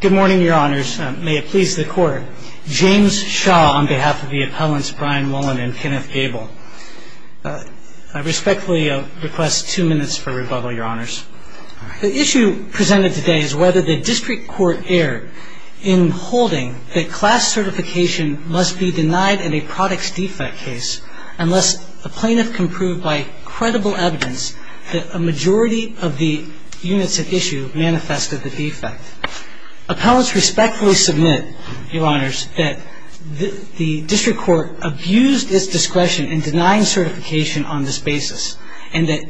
Good morning, your honors. May it please the court. James Shaw on behalf of the appellants Brian Wolin and Kenneth Gable. I respectfully request two minutes for rebuttal, your honors. The issue presented today is whether the district court erred in holding that class certification must be denied in a products defect case unless a plaintiff can prove by credible evidence that a majority of the units at issue manifested the defect. Appellants respectfully submit, your honors, that the district court abused its discretion in denying certification on this basis and that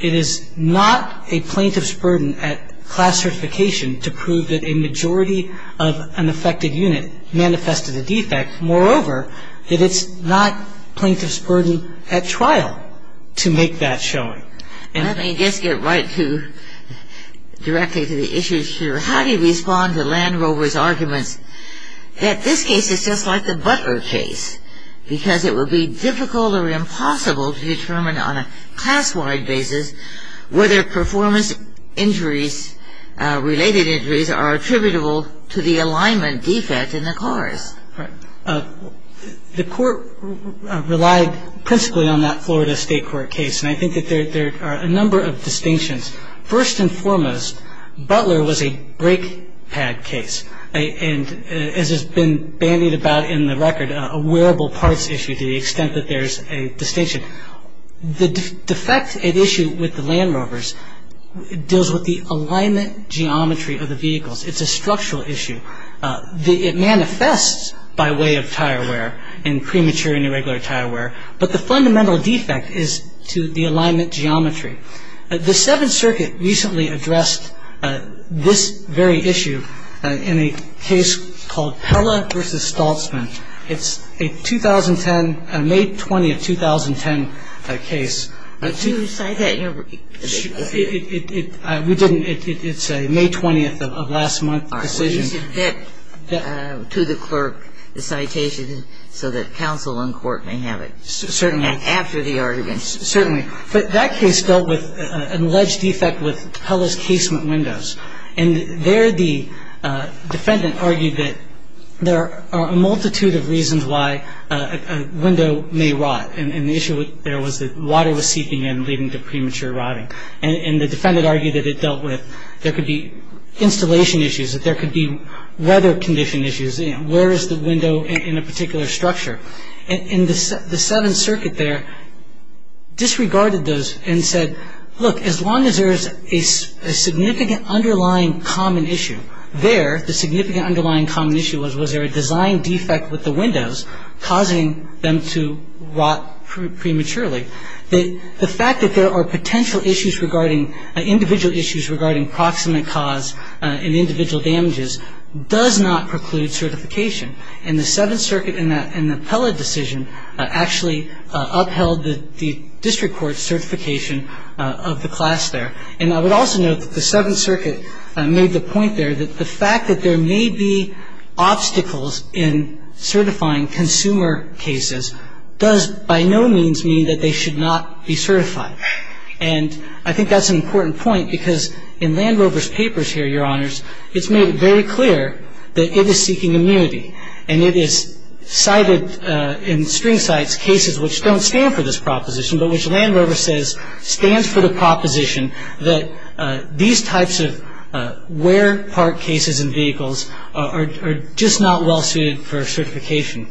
it is not a plaintiff's burden at class certification to prove that a majority of an affected unit manifested a defect. Moreover, that it's not plaintiff's burden at trial to make that showing. Let me just get right to, directly to the issue here. How do you respond to Land Rover's arguments that this case is just like the Butter case because it would be difficult or impossible to determine on a class-wide basis whether performance injuries, related injuries, are attributable to the alignment defect in the cars? The court relied principally on that Florida State Court case, and I think that there are a number of distinctions. First and foremost, Butler was a brake pad case. And as has been bandied about in the record, a wearable parts issue to the extent that there's a distinction. The defect at issue with the Land Rovers deals with the alignment geometry of the vehicles. It's a structural issue. It manifests by way of tire wear and premature and irregular tire wear, but the fundamental defect is to the alignment geometry. The Seventh Circuit recently addressed this very issue in a case called Pella v. Staltzman. It's a 2010, a May 20th, 2010 case. Did you cite that in your report? We didn't. It's a May 20th of last month decision. All right. So you submit to the clerk the citation so that counsel in court may have it. Certainly. After the argument. Certainly. But that case dealt with an alleged defect with Pella's casement windows. And there the defendant argued that there are a multitude of reasons why a window may rot. And the issue there was that water was seeping in, leading to premature rotting. And the defendant argued that it dealt with, there could be installation issues, that there could be weather condition issues, where is the window in a particular structure. And the Seventh Circuit there disregarded those and said, Look, as long as there's a significant underlying common issue, there, the significant underlying common issue was, was there a design defect with the windows causing them to rot prematurely. The fact that there are potential issues regarding, individual issues regarding proximate cause and individual damages does not preclude certification. And the Seventh Circuit in the Pella decision actually upheld the district court certification of the class there. And I would also note that the Seventh Circuit made the point there that the fact that there may be obstacles in certifying consumer cases does by no means mean that they should not be certified. And I think that's an important point because in Land Rover's papers here, Your Honors, it's made very clear that it is seeking immunity. And it is cited in string sites cases which don't stand for this proposition, but which Land Rover says stands for the proposition that these types of wear part cases in vehicles are just not well suited for certification.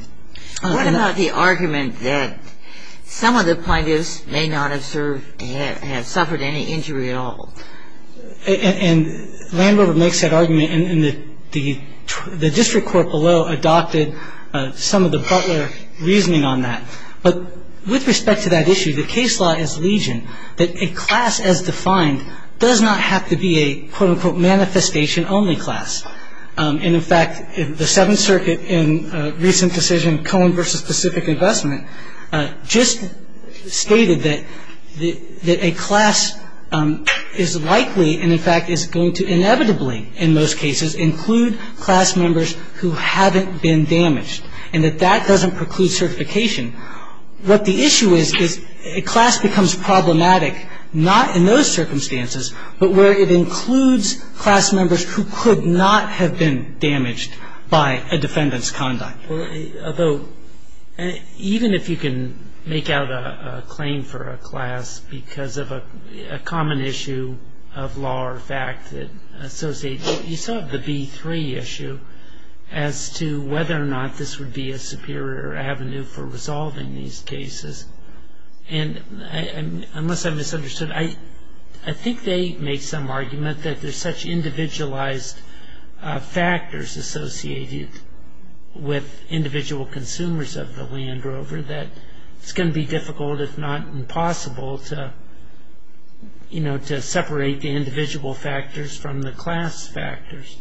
What about the argument that some of the plaintiffs may not have served, may not have suffered any injury at all? And Land Rover makes that argument, and the district court below adopted some of the Butler reasoning on that. But with respect to that issue, the case law is legion, that a class as defined does not have to be a quote, unquote, manifestation only class. And, in fact, the Seventh Circuit in a recent decision, Cohen v. Pacific Investment, just stated that a class is likely and, in fact, is going to inevitably, in most cases, include class members who haven't been damaged, and that that doesn't preclude certification. What the issue is, is a class becomes problematic not in those circumstances, but where it includes class members who could not have been damaged by a defendant's conduct. Although, even if you can make out a claim for a class because of a common issue of law or fact, you still have the B3 issue as to whether or not this would be a superior avenue for resolving these cases. And unless I'm misunderstood, I think they make some argument that there's such individualized factors associated with individual consumers of the Land Rover that it's going to be difficult, if not impossible, to separate the individual factors from the class factors.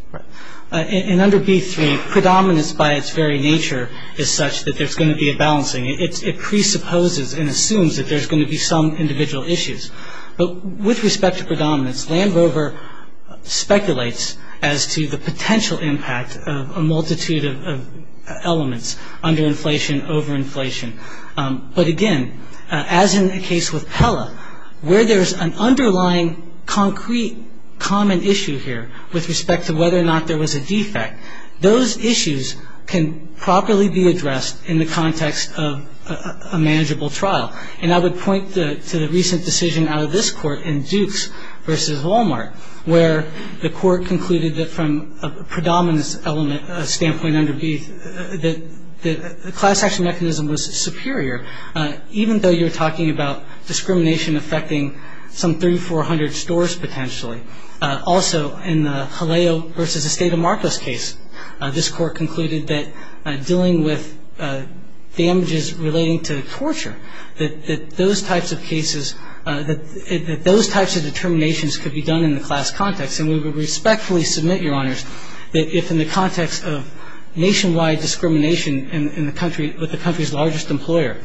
And under B3, predominance by its very nature is such that there's going to be a balancing. It presupposes and assumes that there's going to be some individual issues. But with respect to predominance, Land Rover speculates as to the potential impact of a multitude of elements under inflation, over inflation. But again, as in the case with Pella, where there's an underlying concrete common issue here with respect to whether or not there was a defect, those issues can properly be addressed in the context of a manageable trial. And I would point to the recent decision out of this court in Dukes v. Walmart, where the court concluded that from a predominance element standpoint under B3, that the class action mechanism was superior, even though you're talking about discrimination affecting some 300, 400 stores potentially. Also, in the Jaleo v. Esteta Marcos case, this court concluded that dealing with damages relating to torture, that those types of cases, that those types of determinations could be done in the class context. And we would respectfully submit, Your Honors, that if in the context of nationwide discrimination in the country with the country's largest employer,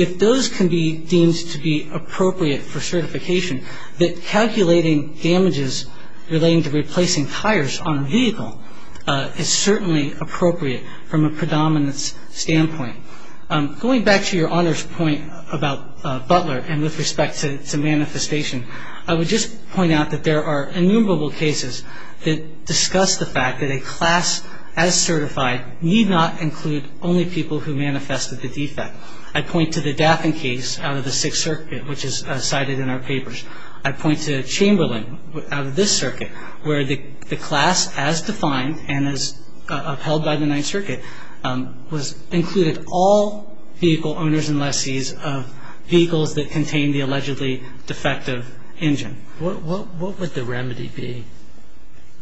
if those can be deemed to be appropriate for certification, that calculating damages relating to replacing tires on a vehicle is certainly appropriate from a predominance standpoint. Going back to Your Honors' point about Butler and with respect to manifestation, I would just point out that there are innumerable cases that discuss the fact that a class as certified need not include only people who manifested the defect. I point to the Daffin case out of the Sixth Circuit, which is cited in our papers. I point to Chamberlain out of this circuit, where the class as defined and as upheld by the Ninth Circuit included all vehicle owners and lessees of vehicles that contained the allegedly defective engine. What would the remedy be?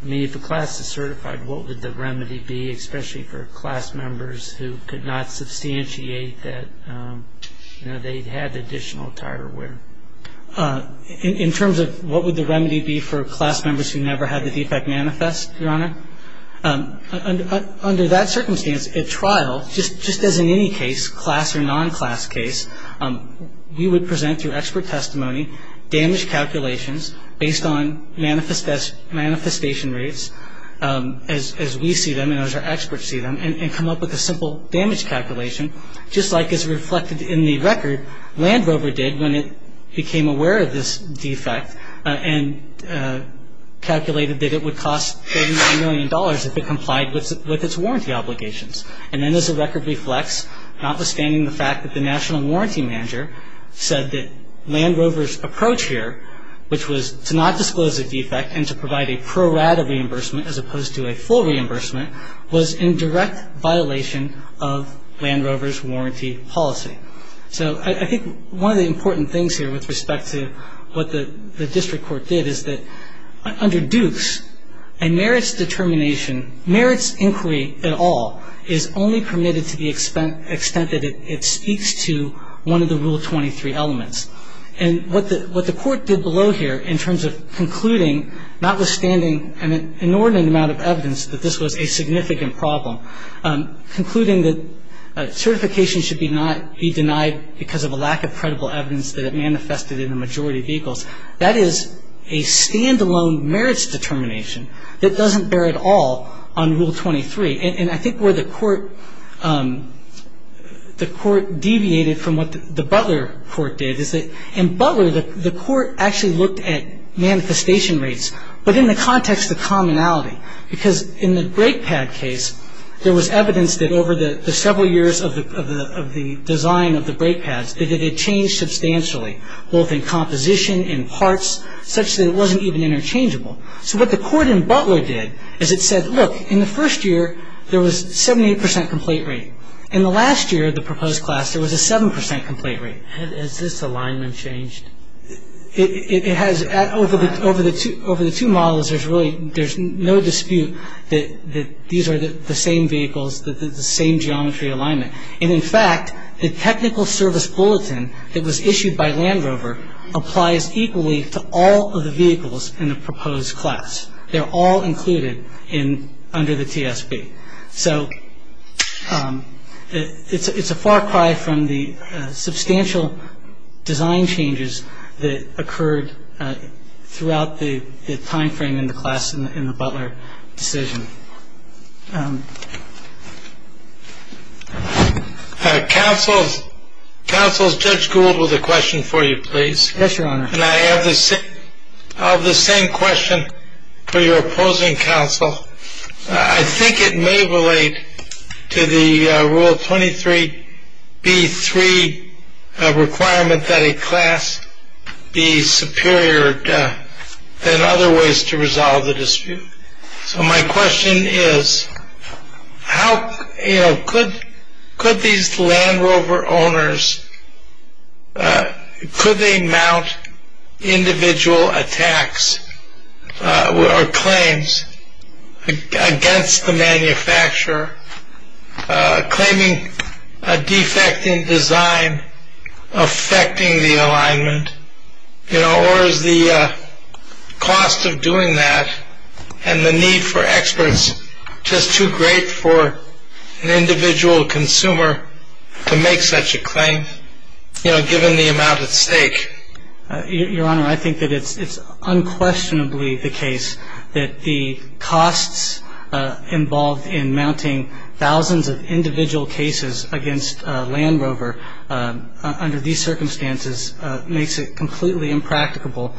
I mean, if the class is certified, what would the remedy be, especially for class members who could not substantiate that they had additional tire wear? In terms of what would the remedy be for class members who never had the defect manifest, Your Honor, under that circumstance, a trial, just as in any case, class or non-class case, you would present through expert testimony, damage calculations based on manifestation rates as we see them and as our experts see them, and come up with a simple damage calculation, just like as reflected in the record Land Rover did when it became aware of this defect and calculated that it would cost $35 million if it complied with its warranty obligations. And then as the record reflects, notwithstanding the fact that the National Warranty Manager said that Land Rover's approach here, which was to not disclose a defect and to provide a pro rata reimbursement as opposed to a full reimbursement, was in direct violation of Land Rover's warranty policy. So I think one of the important things here with respect to what the district court did is that under Dukes, a merits determination, merits inquiry at all, is only permitted to the extent that it speaks to one of the Rule 23 elements. And what the court did below here in terms of concluding, notwithstanding an inordinate amount of evidence that this was a significant problem, concluding that certification should not be denied because of a lack of credible evidence that it manifested in the majority of vehicles, that is a standalone merits determination that doesn't bear at all on Rule 23. And I think where the court deviated from what the Butler court did is that in Butler, the court actually looked at manifestation rates within the context of commonality. Because in the brake pad case, there was evidence that over the several years of the design of the brake pads that it had changed substantially, both in composition and parts, such that it wasn't even interchangeable. So what the court in Butler did is it said, look, in the first year, there was 78% complete rate. In the last year of the proposed class, there was a 7% complete rate. Has this alignment changed? It has. Over the two models, there's no dispute that these are the same vehicles, the same geometry alignment. And in fact, the technical service bulletin that was issued by Land Rover applies equally to all of the vehicles in the proposed class. They're all included under the TSB. So it's a far cry from the substantial design changes that occurred throughout the time frame in the class in the Butler decision. All right. Counsel, Judge Gould, with a question for you, please. Yes, Your Honor. And I have the same question for your opposing counsel. I think it may relate to the Rule 23B3 requirement that a class be superior in other ways to resolve the dispute. So my question is, could these Land Rover owners, could they mount individual attacks or claims against the manufacturer, claiming a defect in design affecting the alignment? Or is the cost of doing that and the need for experts just too great for an individual consumer to make such a claim, given the amount at stake? Your Honor, I think that it's unquestionably the case that the costs involved in mounting thousands of individual cases against Land Rover under these circumstances makes it completely impracticable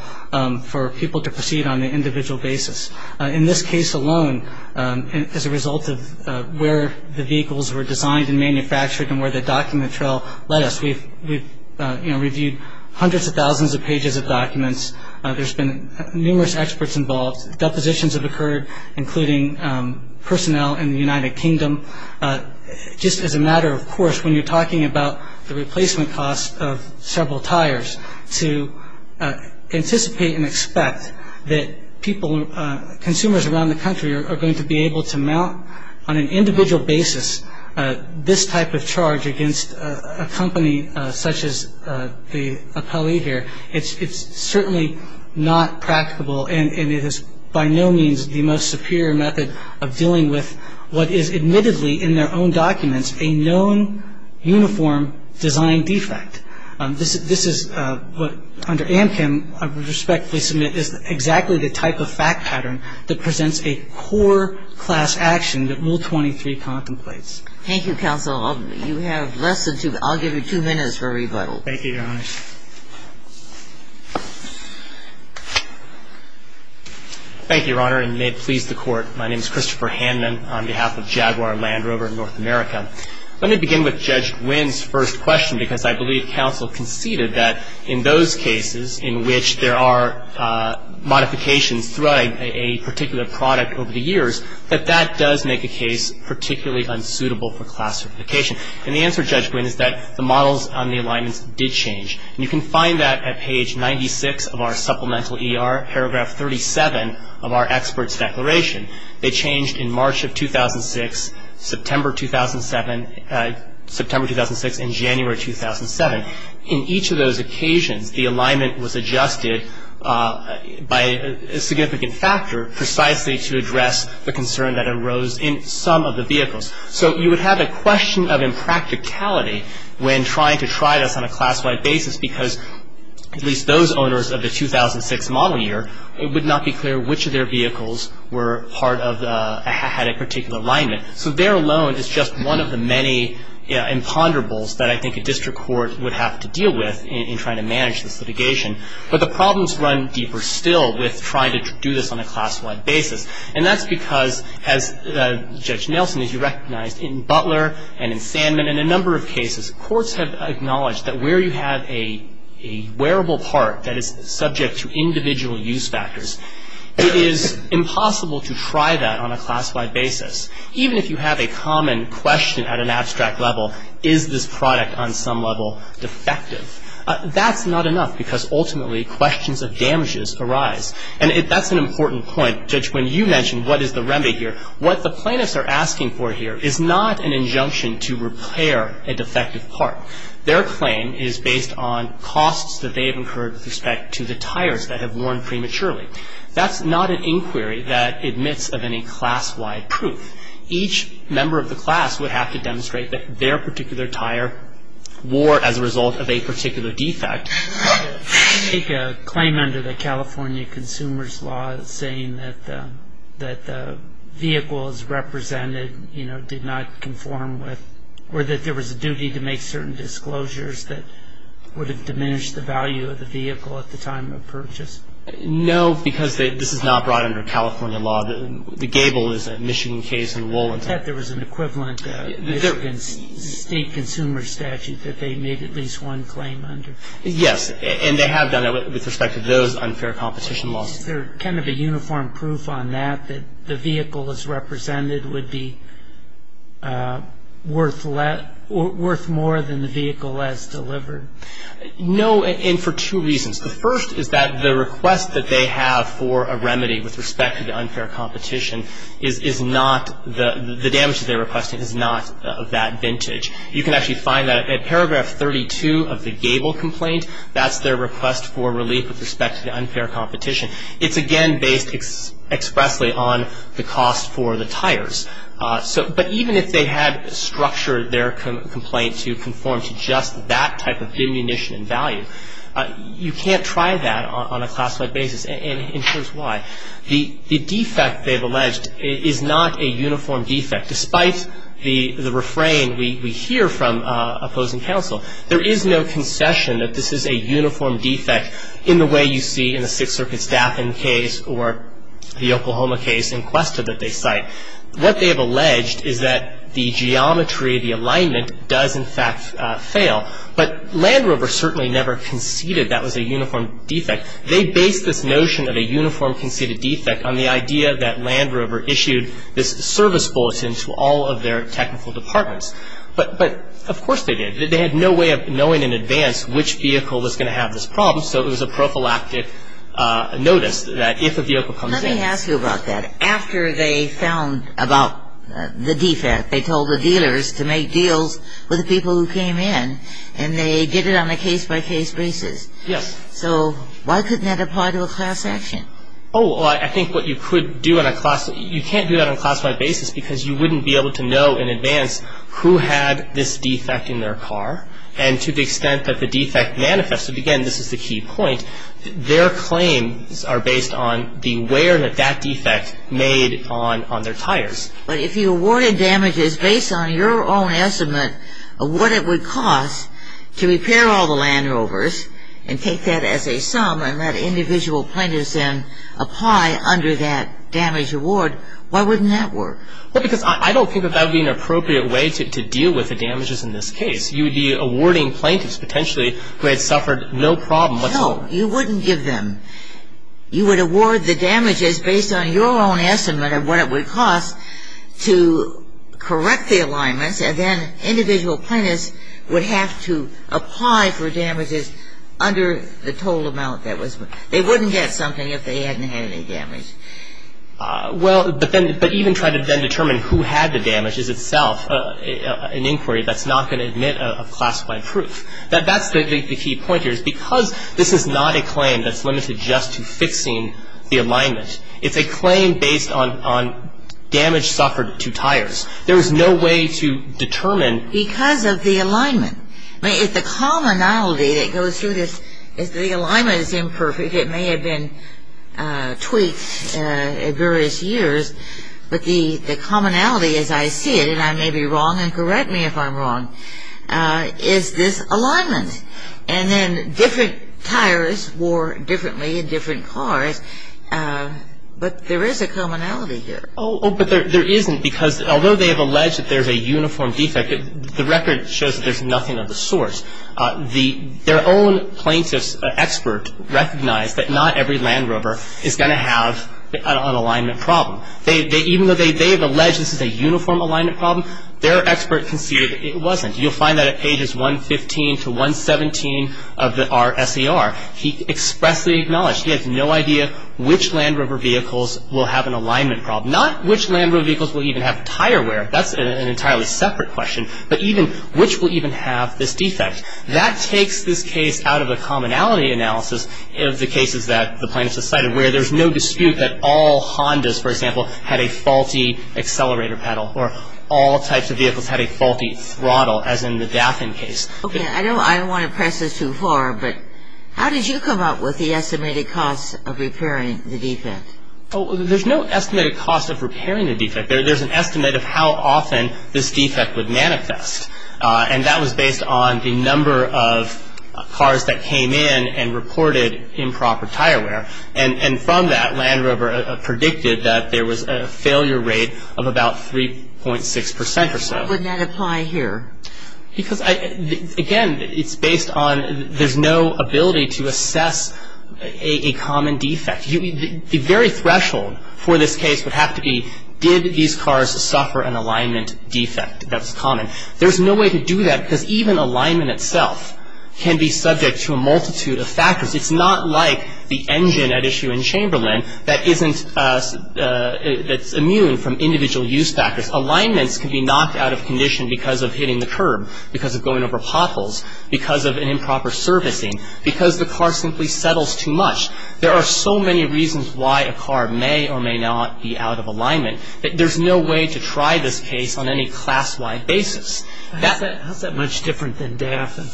for people to proceed on an individual basis. In this case alone, as a result of where the vehicles were designed and manufactured and where the document trail led us, we've reviewed hundreds of thousands of pages of documents. There's been numerous experts involved. Depositions have occurred, including personnel in the United Kingdom. Just as a matter of course, when you're talking about the replacement cost of several tires, to anticipate and expect that consumers around the country are going to be able to mount, on an individual basis, this type of charge against a company such as the appellee here, it's certainly not practicable, and it is by no means the most superior method of dealing with what is admittedly, in their own documents, a known uniform design defect. This is what under Amchem I would respectfully submit is exactly the type of fact pattern that presents a core class action that Rule 23 contemplates. Thank you, counsel. You have less than two minutes. I'll give you two minutes for a rebuttal. Thank you, Your Honor. Thank you, Your Honor, and may it please the Court. My name is Christopher Handman on behalf of Jaguar Land Rover in North America. Let me begin with Judge Gwynne's first question, because I believe counsel conceded that in those cases in which there are modifications throughout a particular product over the years, that that does make a case particularly unsuitable for class certification. And the answer, Judge Gwynne, is that the models on the alignments did change. And you can find that at page 96 of our supplemental ER, paragraph 37 of our expert's declaration. They changed in March of 2006, September 2007, September 2006, and January 2007. In each of those occasions, the alignment was adjusted by a significant factor, precisely to address the concern that arose in some of the vehicles. So you would have a question of impracticality when trying to try this on a class-wide basis, because at least those owners of the 2006 model year, it would not be clear which of their vehicles had a particular alignment. So there alone is just one of the many imponderables that I think a district court would have to deal with in trying to manage this litigation. But the problems run deeper still with trying to do this on a class-wide basis. And that's because, as Judge Nelson, as you recognized, in Butler and in Sandman and in a number of cases, courts have acknowledged that where you have a wearable part that is subject to individual use factors, it is impossible to try that on a class-wide basis. Even if you have a common question at an abstract level, is this product on some level defective? That's not enough, because ultimately questions of damages arise. And that's an important point, Judge. When you mentioned what is the remedy here, what the plaintiffs are asking for here is not an injunction to repair a defective part. Their claim is based on costs that they have incurred with respect to the tires that have worn prematurely. That's not an inquiry that admits of any class-wide proof. Each member of the class would have to demonstrate that their particular tire wore as a result of a particular defect. Take a claim under the California Consumer's Law saying that the vehicle is represented, did not conform with, or that there was a duty to make certain disclosures that would have diminished the value of the vehicle at the time of purchase. No, because this is not brought under California law. The Gable is a Michigan case in Woolinton. I thought there was an equivalent Michigan state consumer statute that they made at least one claim under. Yes, and they have done that with respect to those unfair competition laws. Is there kind of a uniform proof on that that the vehicle as represented would be worth more than the vehicle as delivered? No, and for two reasons. The first is that the request that they have for a remedy with respect to the unfair competition is not the damage that they're requesting is not of that vintage. You can actually find that at paragraph 32 of the Gable complaint. That's their request for relief with respect to the unfair competition. It's, again, based expressly on the cost for the tires. But even if they had structured their complaint to conform to just that type of diminution in value, you can't try that on a classified basis, and here's why. The defect they've alleged is not a uniform defect. Despite the refrain we hear from opposing counsel, there is no concession that this is a uniform defect in the way you see in the Sixth Circuit Staffing case or the Oklahoma case in Cuesta that they cite. What they have alleged is that the geometry, the alignment does, in fact, fail. But Land Rover certainly never conceded that was a uniform defect. They base this notion of a uniform conceded defect on the idea that Land Rover issued this service bulletin to all of their technical departments. But, of course, they didn't. They had no way of knowing in advance which vehicle was going to have this problem, so it was a prophylactic notice that if a vehicle comes in. Let me ask you about that. After they found about the defect, they told the dealers to make deals with the people who came in, and they did it on a case-by-case basis. Yes. So why couldn't that apply to a class action? Oh, I think what you could do on a class – you can't do that on a class-by-basis because you wouldn't be able to know in advance who had this defect in their car, and to the extent that the defect manifests – and, again, this is the key point – their claims are based on the wear that that defect made on their tires. But if you awarded damages based on your own estimate of what it would cost to repair all the Land Rovers and take that as a sum and let individual plaintiffs then apply under that damage award, why wouldn't that work? Well, because I don't think that that would be an appropriate way to deal with the damages in this case. You would be awarding plaintiffs potentially who had suffered no problem whatsoever. No, you wouldn't give them. You would award the damages based on your own estimate of what it would cost to correct the alignments, and then individual plaintiffs would have to apply for damages under the total amount that was – they wouldn't get something if they hadn't had any damage. Well, but then – but even try to then determine who had the damages itself, an inquiry that's not going to admit a classified proof. That's the key point here, is because this is not a claim that's limited just to fixing the alignment. It's a claim based on damage suffered to tires. There is no way to determine. Because of the alignment. The commonality that goes through this is the alignment is imperfect. It may have been tweaked at various years, but the commonality, as I see it, and I may be wrong, and correct me if I'm wrong, is this alignment. And then different tires wore differently in different cars, but there is a commonality here. Oh, but there isn't, because although they have alleged that there's a uniform defect, the record shows that there's nothing of the source. Their own plaintiffs' expert recognized that not every Land Rover is going to have an alignment problem. Even though they have alleged this is a uniform alignment problem, their expert conceded it wasn't. You'll find that at pages 115 to 117 of our S.E.R. He expressly acknowledged he has no idea which Land Rover vehicles will have an alignment problem. Not which Land Rover vehicles will even have tire wear. That's an entirely separate question. But even which will even have this defect. That takes this case out of a commonality analysis of the cases that the plaintiffs have cited, where there's no dispute that all Hondas, for example, had a faulty accelerator pedal, or all types of vehicles had a faulty throttle, as in the Daffin case. Okay, I don't want to press this too far, but how did you come up with the estimated cost of repairing the defect? Oh, there's no estimated cost of repairing the defect. There's an estimate of how often this defect would manifest. And that was based on the number of cars that came in and reported improper tire wear. And from that, Land Rover predicted that there was a failure rate of about 3.6 percent or so. Why wouldn't that apply here? Because, again, it's based on there's no ability to assess a common defect. The very threshold for this case would have to be did these cars suffer an alignment defect that was common. There's no way to do that because even alignment itself can be subject to a multitude of factors. It's not like the engine at issue in Chamberlain that isn't, that's immune from individual use factors. Alignments can be knocked out of condition because of hitting the curb, because of going over potholes, because of an improper servicing, because the car simply settles too much. There are so many reasons why a car may or may not be out of alignment that there's no way to try this case on any class-wide basis. How's that much different than Daffin?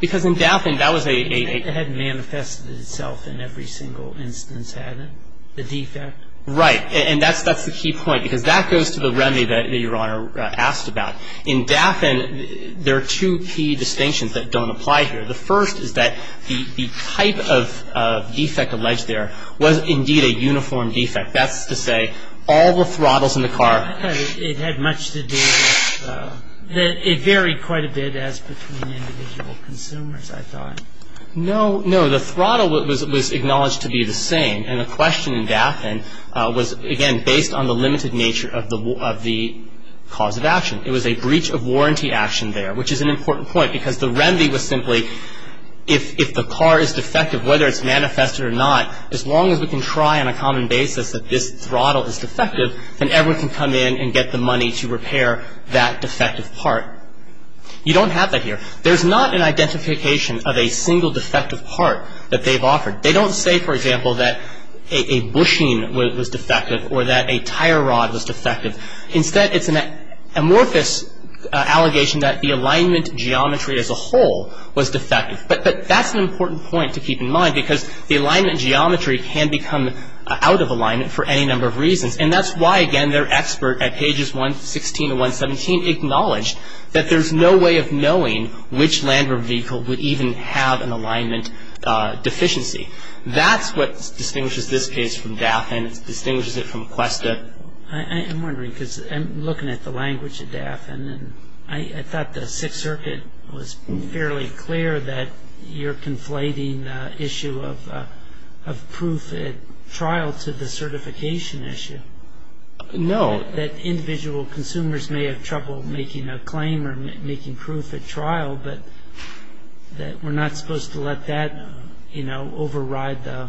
Because in Daffin, that was a ---- It hadn't manifested itself in every single instance, had it, the defect? Right. And that's the key point because that goes to the remedy that Your Honor asked about. In Daffin, there are two key distinctions that don't apply here. The first is that the type of defect alleged there was indeed a uniform defect. That's to say all the throttles in the car ---- I thought it had much to do with, it varied quite a bit as between individual consumers, I thought. No, no. The throttle was acknowledged to be the same, and the question in Daffin was, again, based on the limited nature of the cause of action. It was a breach of warranty action there, which is an important point because the remedy was simply if the car is defective, whether it's manifested or not, as long as we can try on a common basis that this throttle is defective, then everyone can come in and get the money to repair that defective part. You don't have that here. There's not an identification of a single defective part that they've offered. They don't say, for example, that a bushing was defective or that a tire rod was defective. Instead, it's an amorphous allegation that the alignment geometry as a whole was defective. But that's an important point to keep in mind because the alignment geometry can become out of alignment for any number of reasons, and that's why, again, their expert at pages 116 and 117 acknowledged that there's no way of knowing which Land Rover vehicle would even have an alignment deficiency. That's what distinguishes this case from Daffin. It distinguishes it from Cuesta. I'm wondering because I'm looking at the language of Daffin, and I thought the Sixth Circuit was fairly clear that you're conflating the issue of proof at trial to the certification issue. No. That individual consumers may have trouble making a claim or making proof at trial, but that we're not supposed to let that override the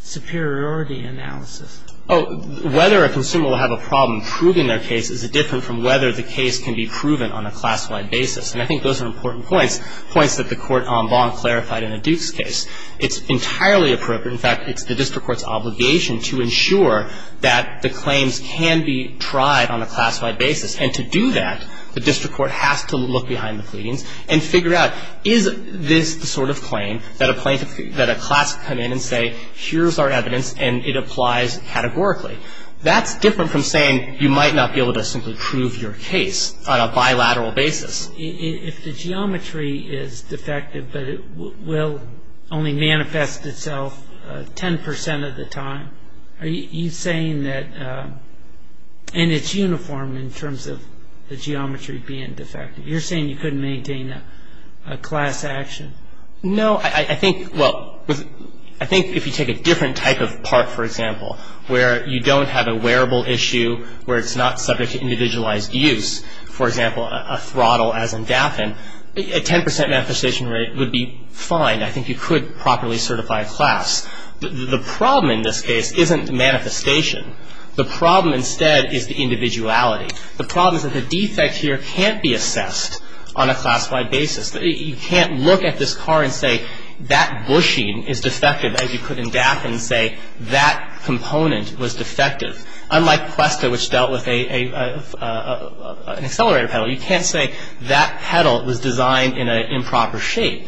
superiority analysis. Whether a consumer will have a problem proving their case is different from whether the case can be proven on a class-wide basis. And I think those are important points, points that the Court en banc clarified in the Dukes case. It's entirely appropriate. In fact, it's the district court's obligation to ensure that the claims can be tried on a class-wide basis. And to do that, the district court has to look behind the pleadings and figure out, is this the sort of claim that a class can come in and say, here's our evidence, and it applies categorically? That's different from saying you might not be able to simply prove your case on a bilateral basis. If the geometry is defective, but it will only manifest itself 10% of the time, are you saying that, and it's uniform in terms of the geometry being defective, you're saying you couldn't maintain a class action? No. I think, well, I think if you take a different type of part, for example, where you don't have a wearable issue, where it's not subject to individualized use, for example, a throttle as in DAFN, a 10% manifestation rate would be fine. I think you could properly certify a class. The problem in this case isn't the manifestation. The problem instead is the individuality. The problem is that the defect here can't be assessed on a class-wide basis. You can't look at this car and say, that bushing is defective, as you could in DAFN say, that component was defective. Unlike Cresta, which dealt with an accelerator pedal, you can't say that pedal was designed in an improper shape.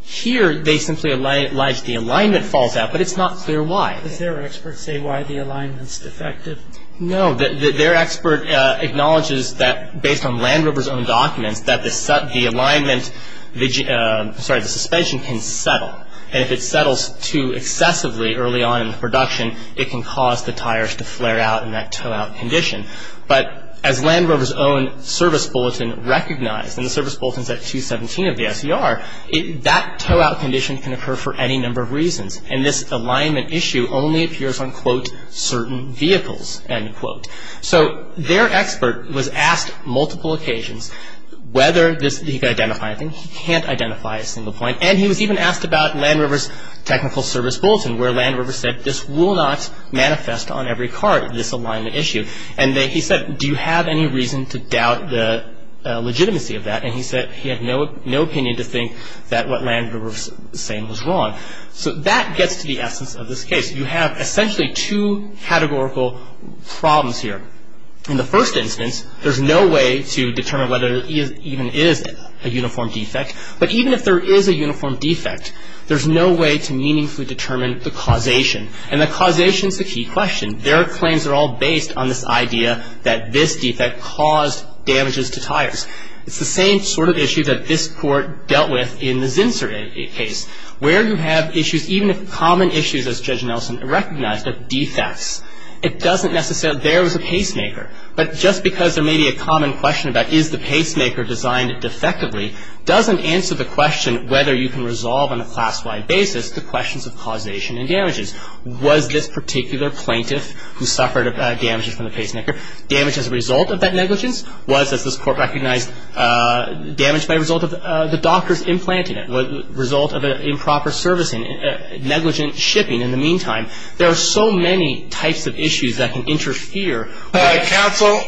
Here, they simply allege the alignment falls out, but it's not clear why. Does their expert say why the alignment's defective? No. Their expert acknowledges that, based on Land Rover's own documents, that the alignment, sorry, the suspension can settle, and if it settles too excessively early on in the production, it can cause the tires to flare out in that tow-out condition. But as Land Rover's own service bulletin recognized, and the service bulletin's at 217 of the SER, that tow-out condition can occur for any number of reasons, and this alignment issue only appears on, quote, certain vehicles, end quote. So their expert was asked multiple occasions whether this, he could identify anything, he can't identify a single point, and he was even asked about Land Rover's technical service bulletin, where Land Rover said this will not manifest on every car, this alignment issue. And he said, do you have any reason to doubt the legitimacy of that? And he said he had no opinion to think that what Land Rover was saying was wrong. So that gets to the essence of this case. You have essentially two categorical problems here. In the first instance, there's no way to determine whether there even is a uniform defect, but even if there is a uniform defect, there's no way to meaningfully determine the causation. And the causation's the key question. Their claims are all based on this idea that this defect caused damages to tires. It's the same sort of issue that this court dealt with in the Zinsser case, where you have issues, even common issues, as Judge Nelson recognized, of defects. It doesn't necessarily, there was a pacemaker. But just because there may be a common question about is the pacemaker designed defectively doesn't answer the question whether you can resolve on a class-wide basis the questions of causation and damages. Was this particular plaintiff who suffered damages from the pacemaker damaged as a result of that negligence? Was, as this court recognized, damaged by a result of the doctors implanting it? As a result of improper servicing, negligent shipping in the meantime? There are so many types of issues that can interfere. Counsel,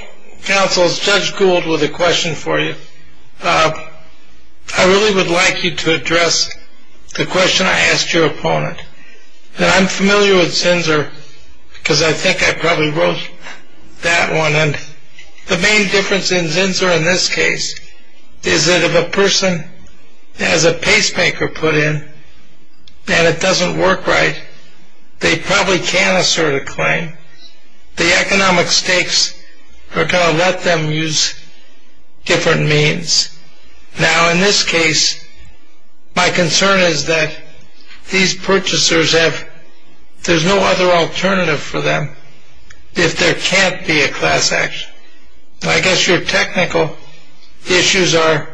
Counsel, Judge Gould with a question for you. I really would like you to address the question I asked your opponent. I'm familiar with Zinsser because I think I probably wrote that one. And the main difference in Zinsser in this case is that if a person has a pacemaker put in and it doesn't work right, they probably can't assert a claim. The economic stakes are going to let them use different means. Now, in this case, my concern is that these purchasers have, there's no other alternative for them if there can't be a class action. I guess your technical issues are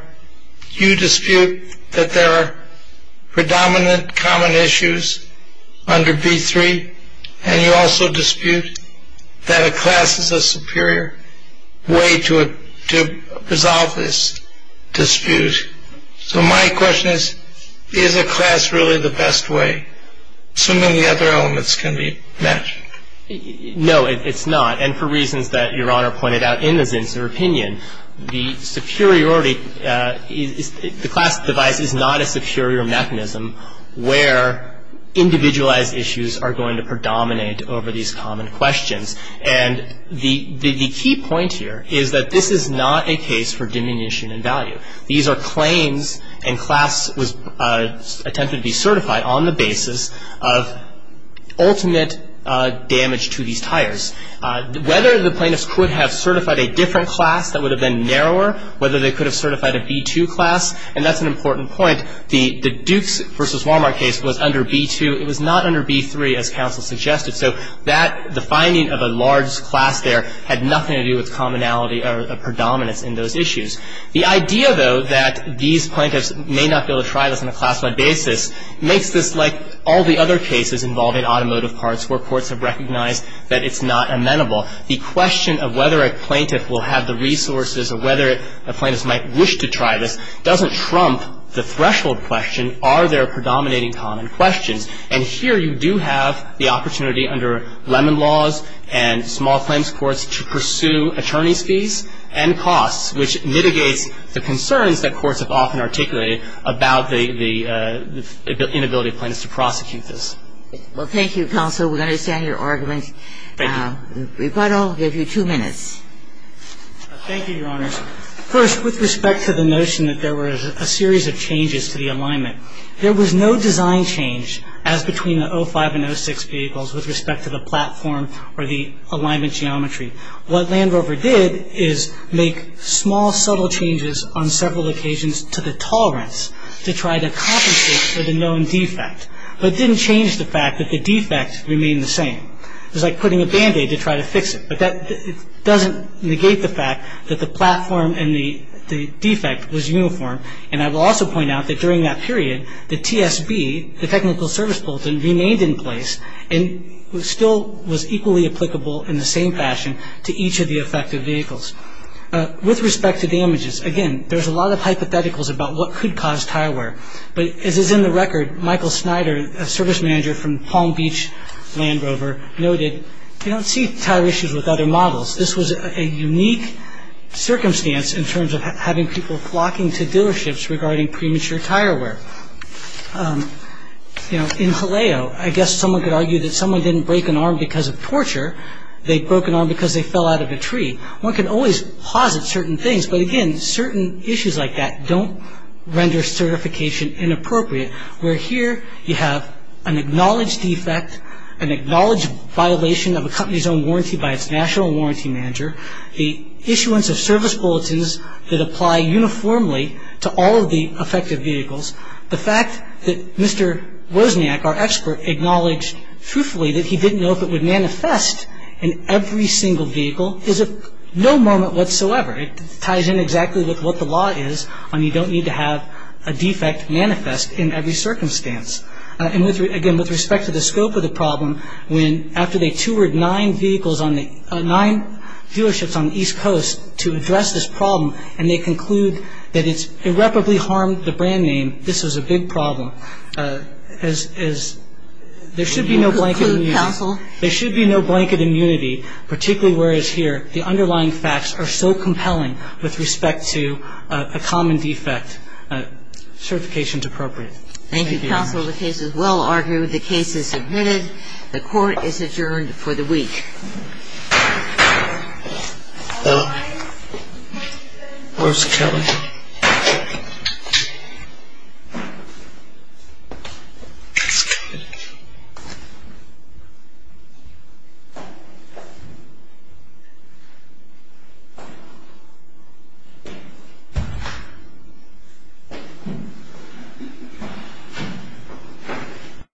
you dispute that there are predominant common issues under B3, and you also dispute that a class is a superior way to resolve this dispute. So my question is, is a class really the best way, assuming the other elements can be matched? No, it's not. And for reasons that Your Honor pointed out in the Zinsser opinion, the superiority, the class device is not a superior mechanism where individualized issues are going to predominate over these common questions. And the key point here is that this is not a case for diminution in value. These are claims and class was attempted to be certified on the basis of ultimate damage to these tires. Whether the plaintiffs could have certified a different class that would have been narrower, whether they could have certified a B2 class, and that's an important point, the Dukes v. Walmart case was under B2. It was not under B3 as counsel suggested. So that, the finding of a large class there had nothing to do with commonality or predominance in those issues. The idea, though, that these plaintiffs may not be able to try this on a class-wide basis makes this like all the other cases involving automotive parts where courts have recognized that it's not amenable. The question of whether a plaintiff will have the resources or whether a plaintiff might wish to try this doesn't trump the threshold question, are there predominating common questions? And here you do have the opportunity under Lemon laws and small claims courts to pursue attorney's fees and costs, which mitigates the concerns that courts have often articulated about the inability of plaintiffs to prosecute this. Well, thank you, counsel. We understand your argument. Thank you. We might all give you two minutes. Thank you, Your Honors. First, with respect to the notion that there was a series of changes to the alignment, there was no design change as between the 05 and 06 vehicles with respect to the platform or the alignment geometry. What Land Rover did is make small, subtle changes on several occasions to the tolerance to try to compensate for the known defect, but it didn't change the fact that the defect remained the same. It was like putting a Band-Aid to try to fix it, but that doesn't negate the fact that the platform and the defect was uniform, and I will also point out that during that period the TSB, the Technical Service Bulletin remained in place and still was equally applicable in the same fashion to each of the affected vehicles. With respect to damages, again, there's a lot of hypotheticals about what could cause tire wear, but as is in the record, Michael Snyder, a service manager from Palm Beach Land Rover, noted you don't see tire issues with other models. This was a unique circumstance in terms of having people flocking to dealerships regarding premature tire wear. In Haleo, I guess someone could argue that someone didn't break an arm because of torture, they broke an arm because they fell out of a tree. One can always posit certain things, but again, certain issues like that don't render certification inappropriate, where here you have an acknowledged defect, an acknowledged violation of a company's own warranty by its national warranty manager, the issuance of service bulletins that apply uniformly to all of the affected vehicles, the fact that Mr. Wozniak, our expert, acknowledged truthfully that he didn't know if it would manifest in every single vehicle is of no moment whatsoever. It ties in exactly with what the law is on you don't need to have a defect manifest in every circumstance. And again, with respect to the scope of the problem, after they toured nine dealerships on the East Coast to address this problem and they conclude that it's irreparably harmed the brand name, this is a big problem. There should be no blanket immunity. There should be no blanket immunity, particularly whereas here, the underlying facts are so compelling with respect to a common defect. Certification is appropriate. Thank you. Thank you, counsel. The case is well argued. The case is submitted. The Court is adjourned for the week. Where's Kelly?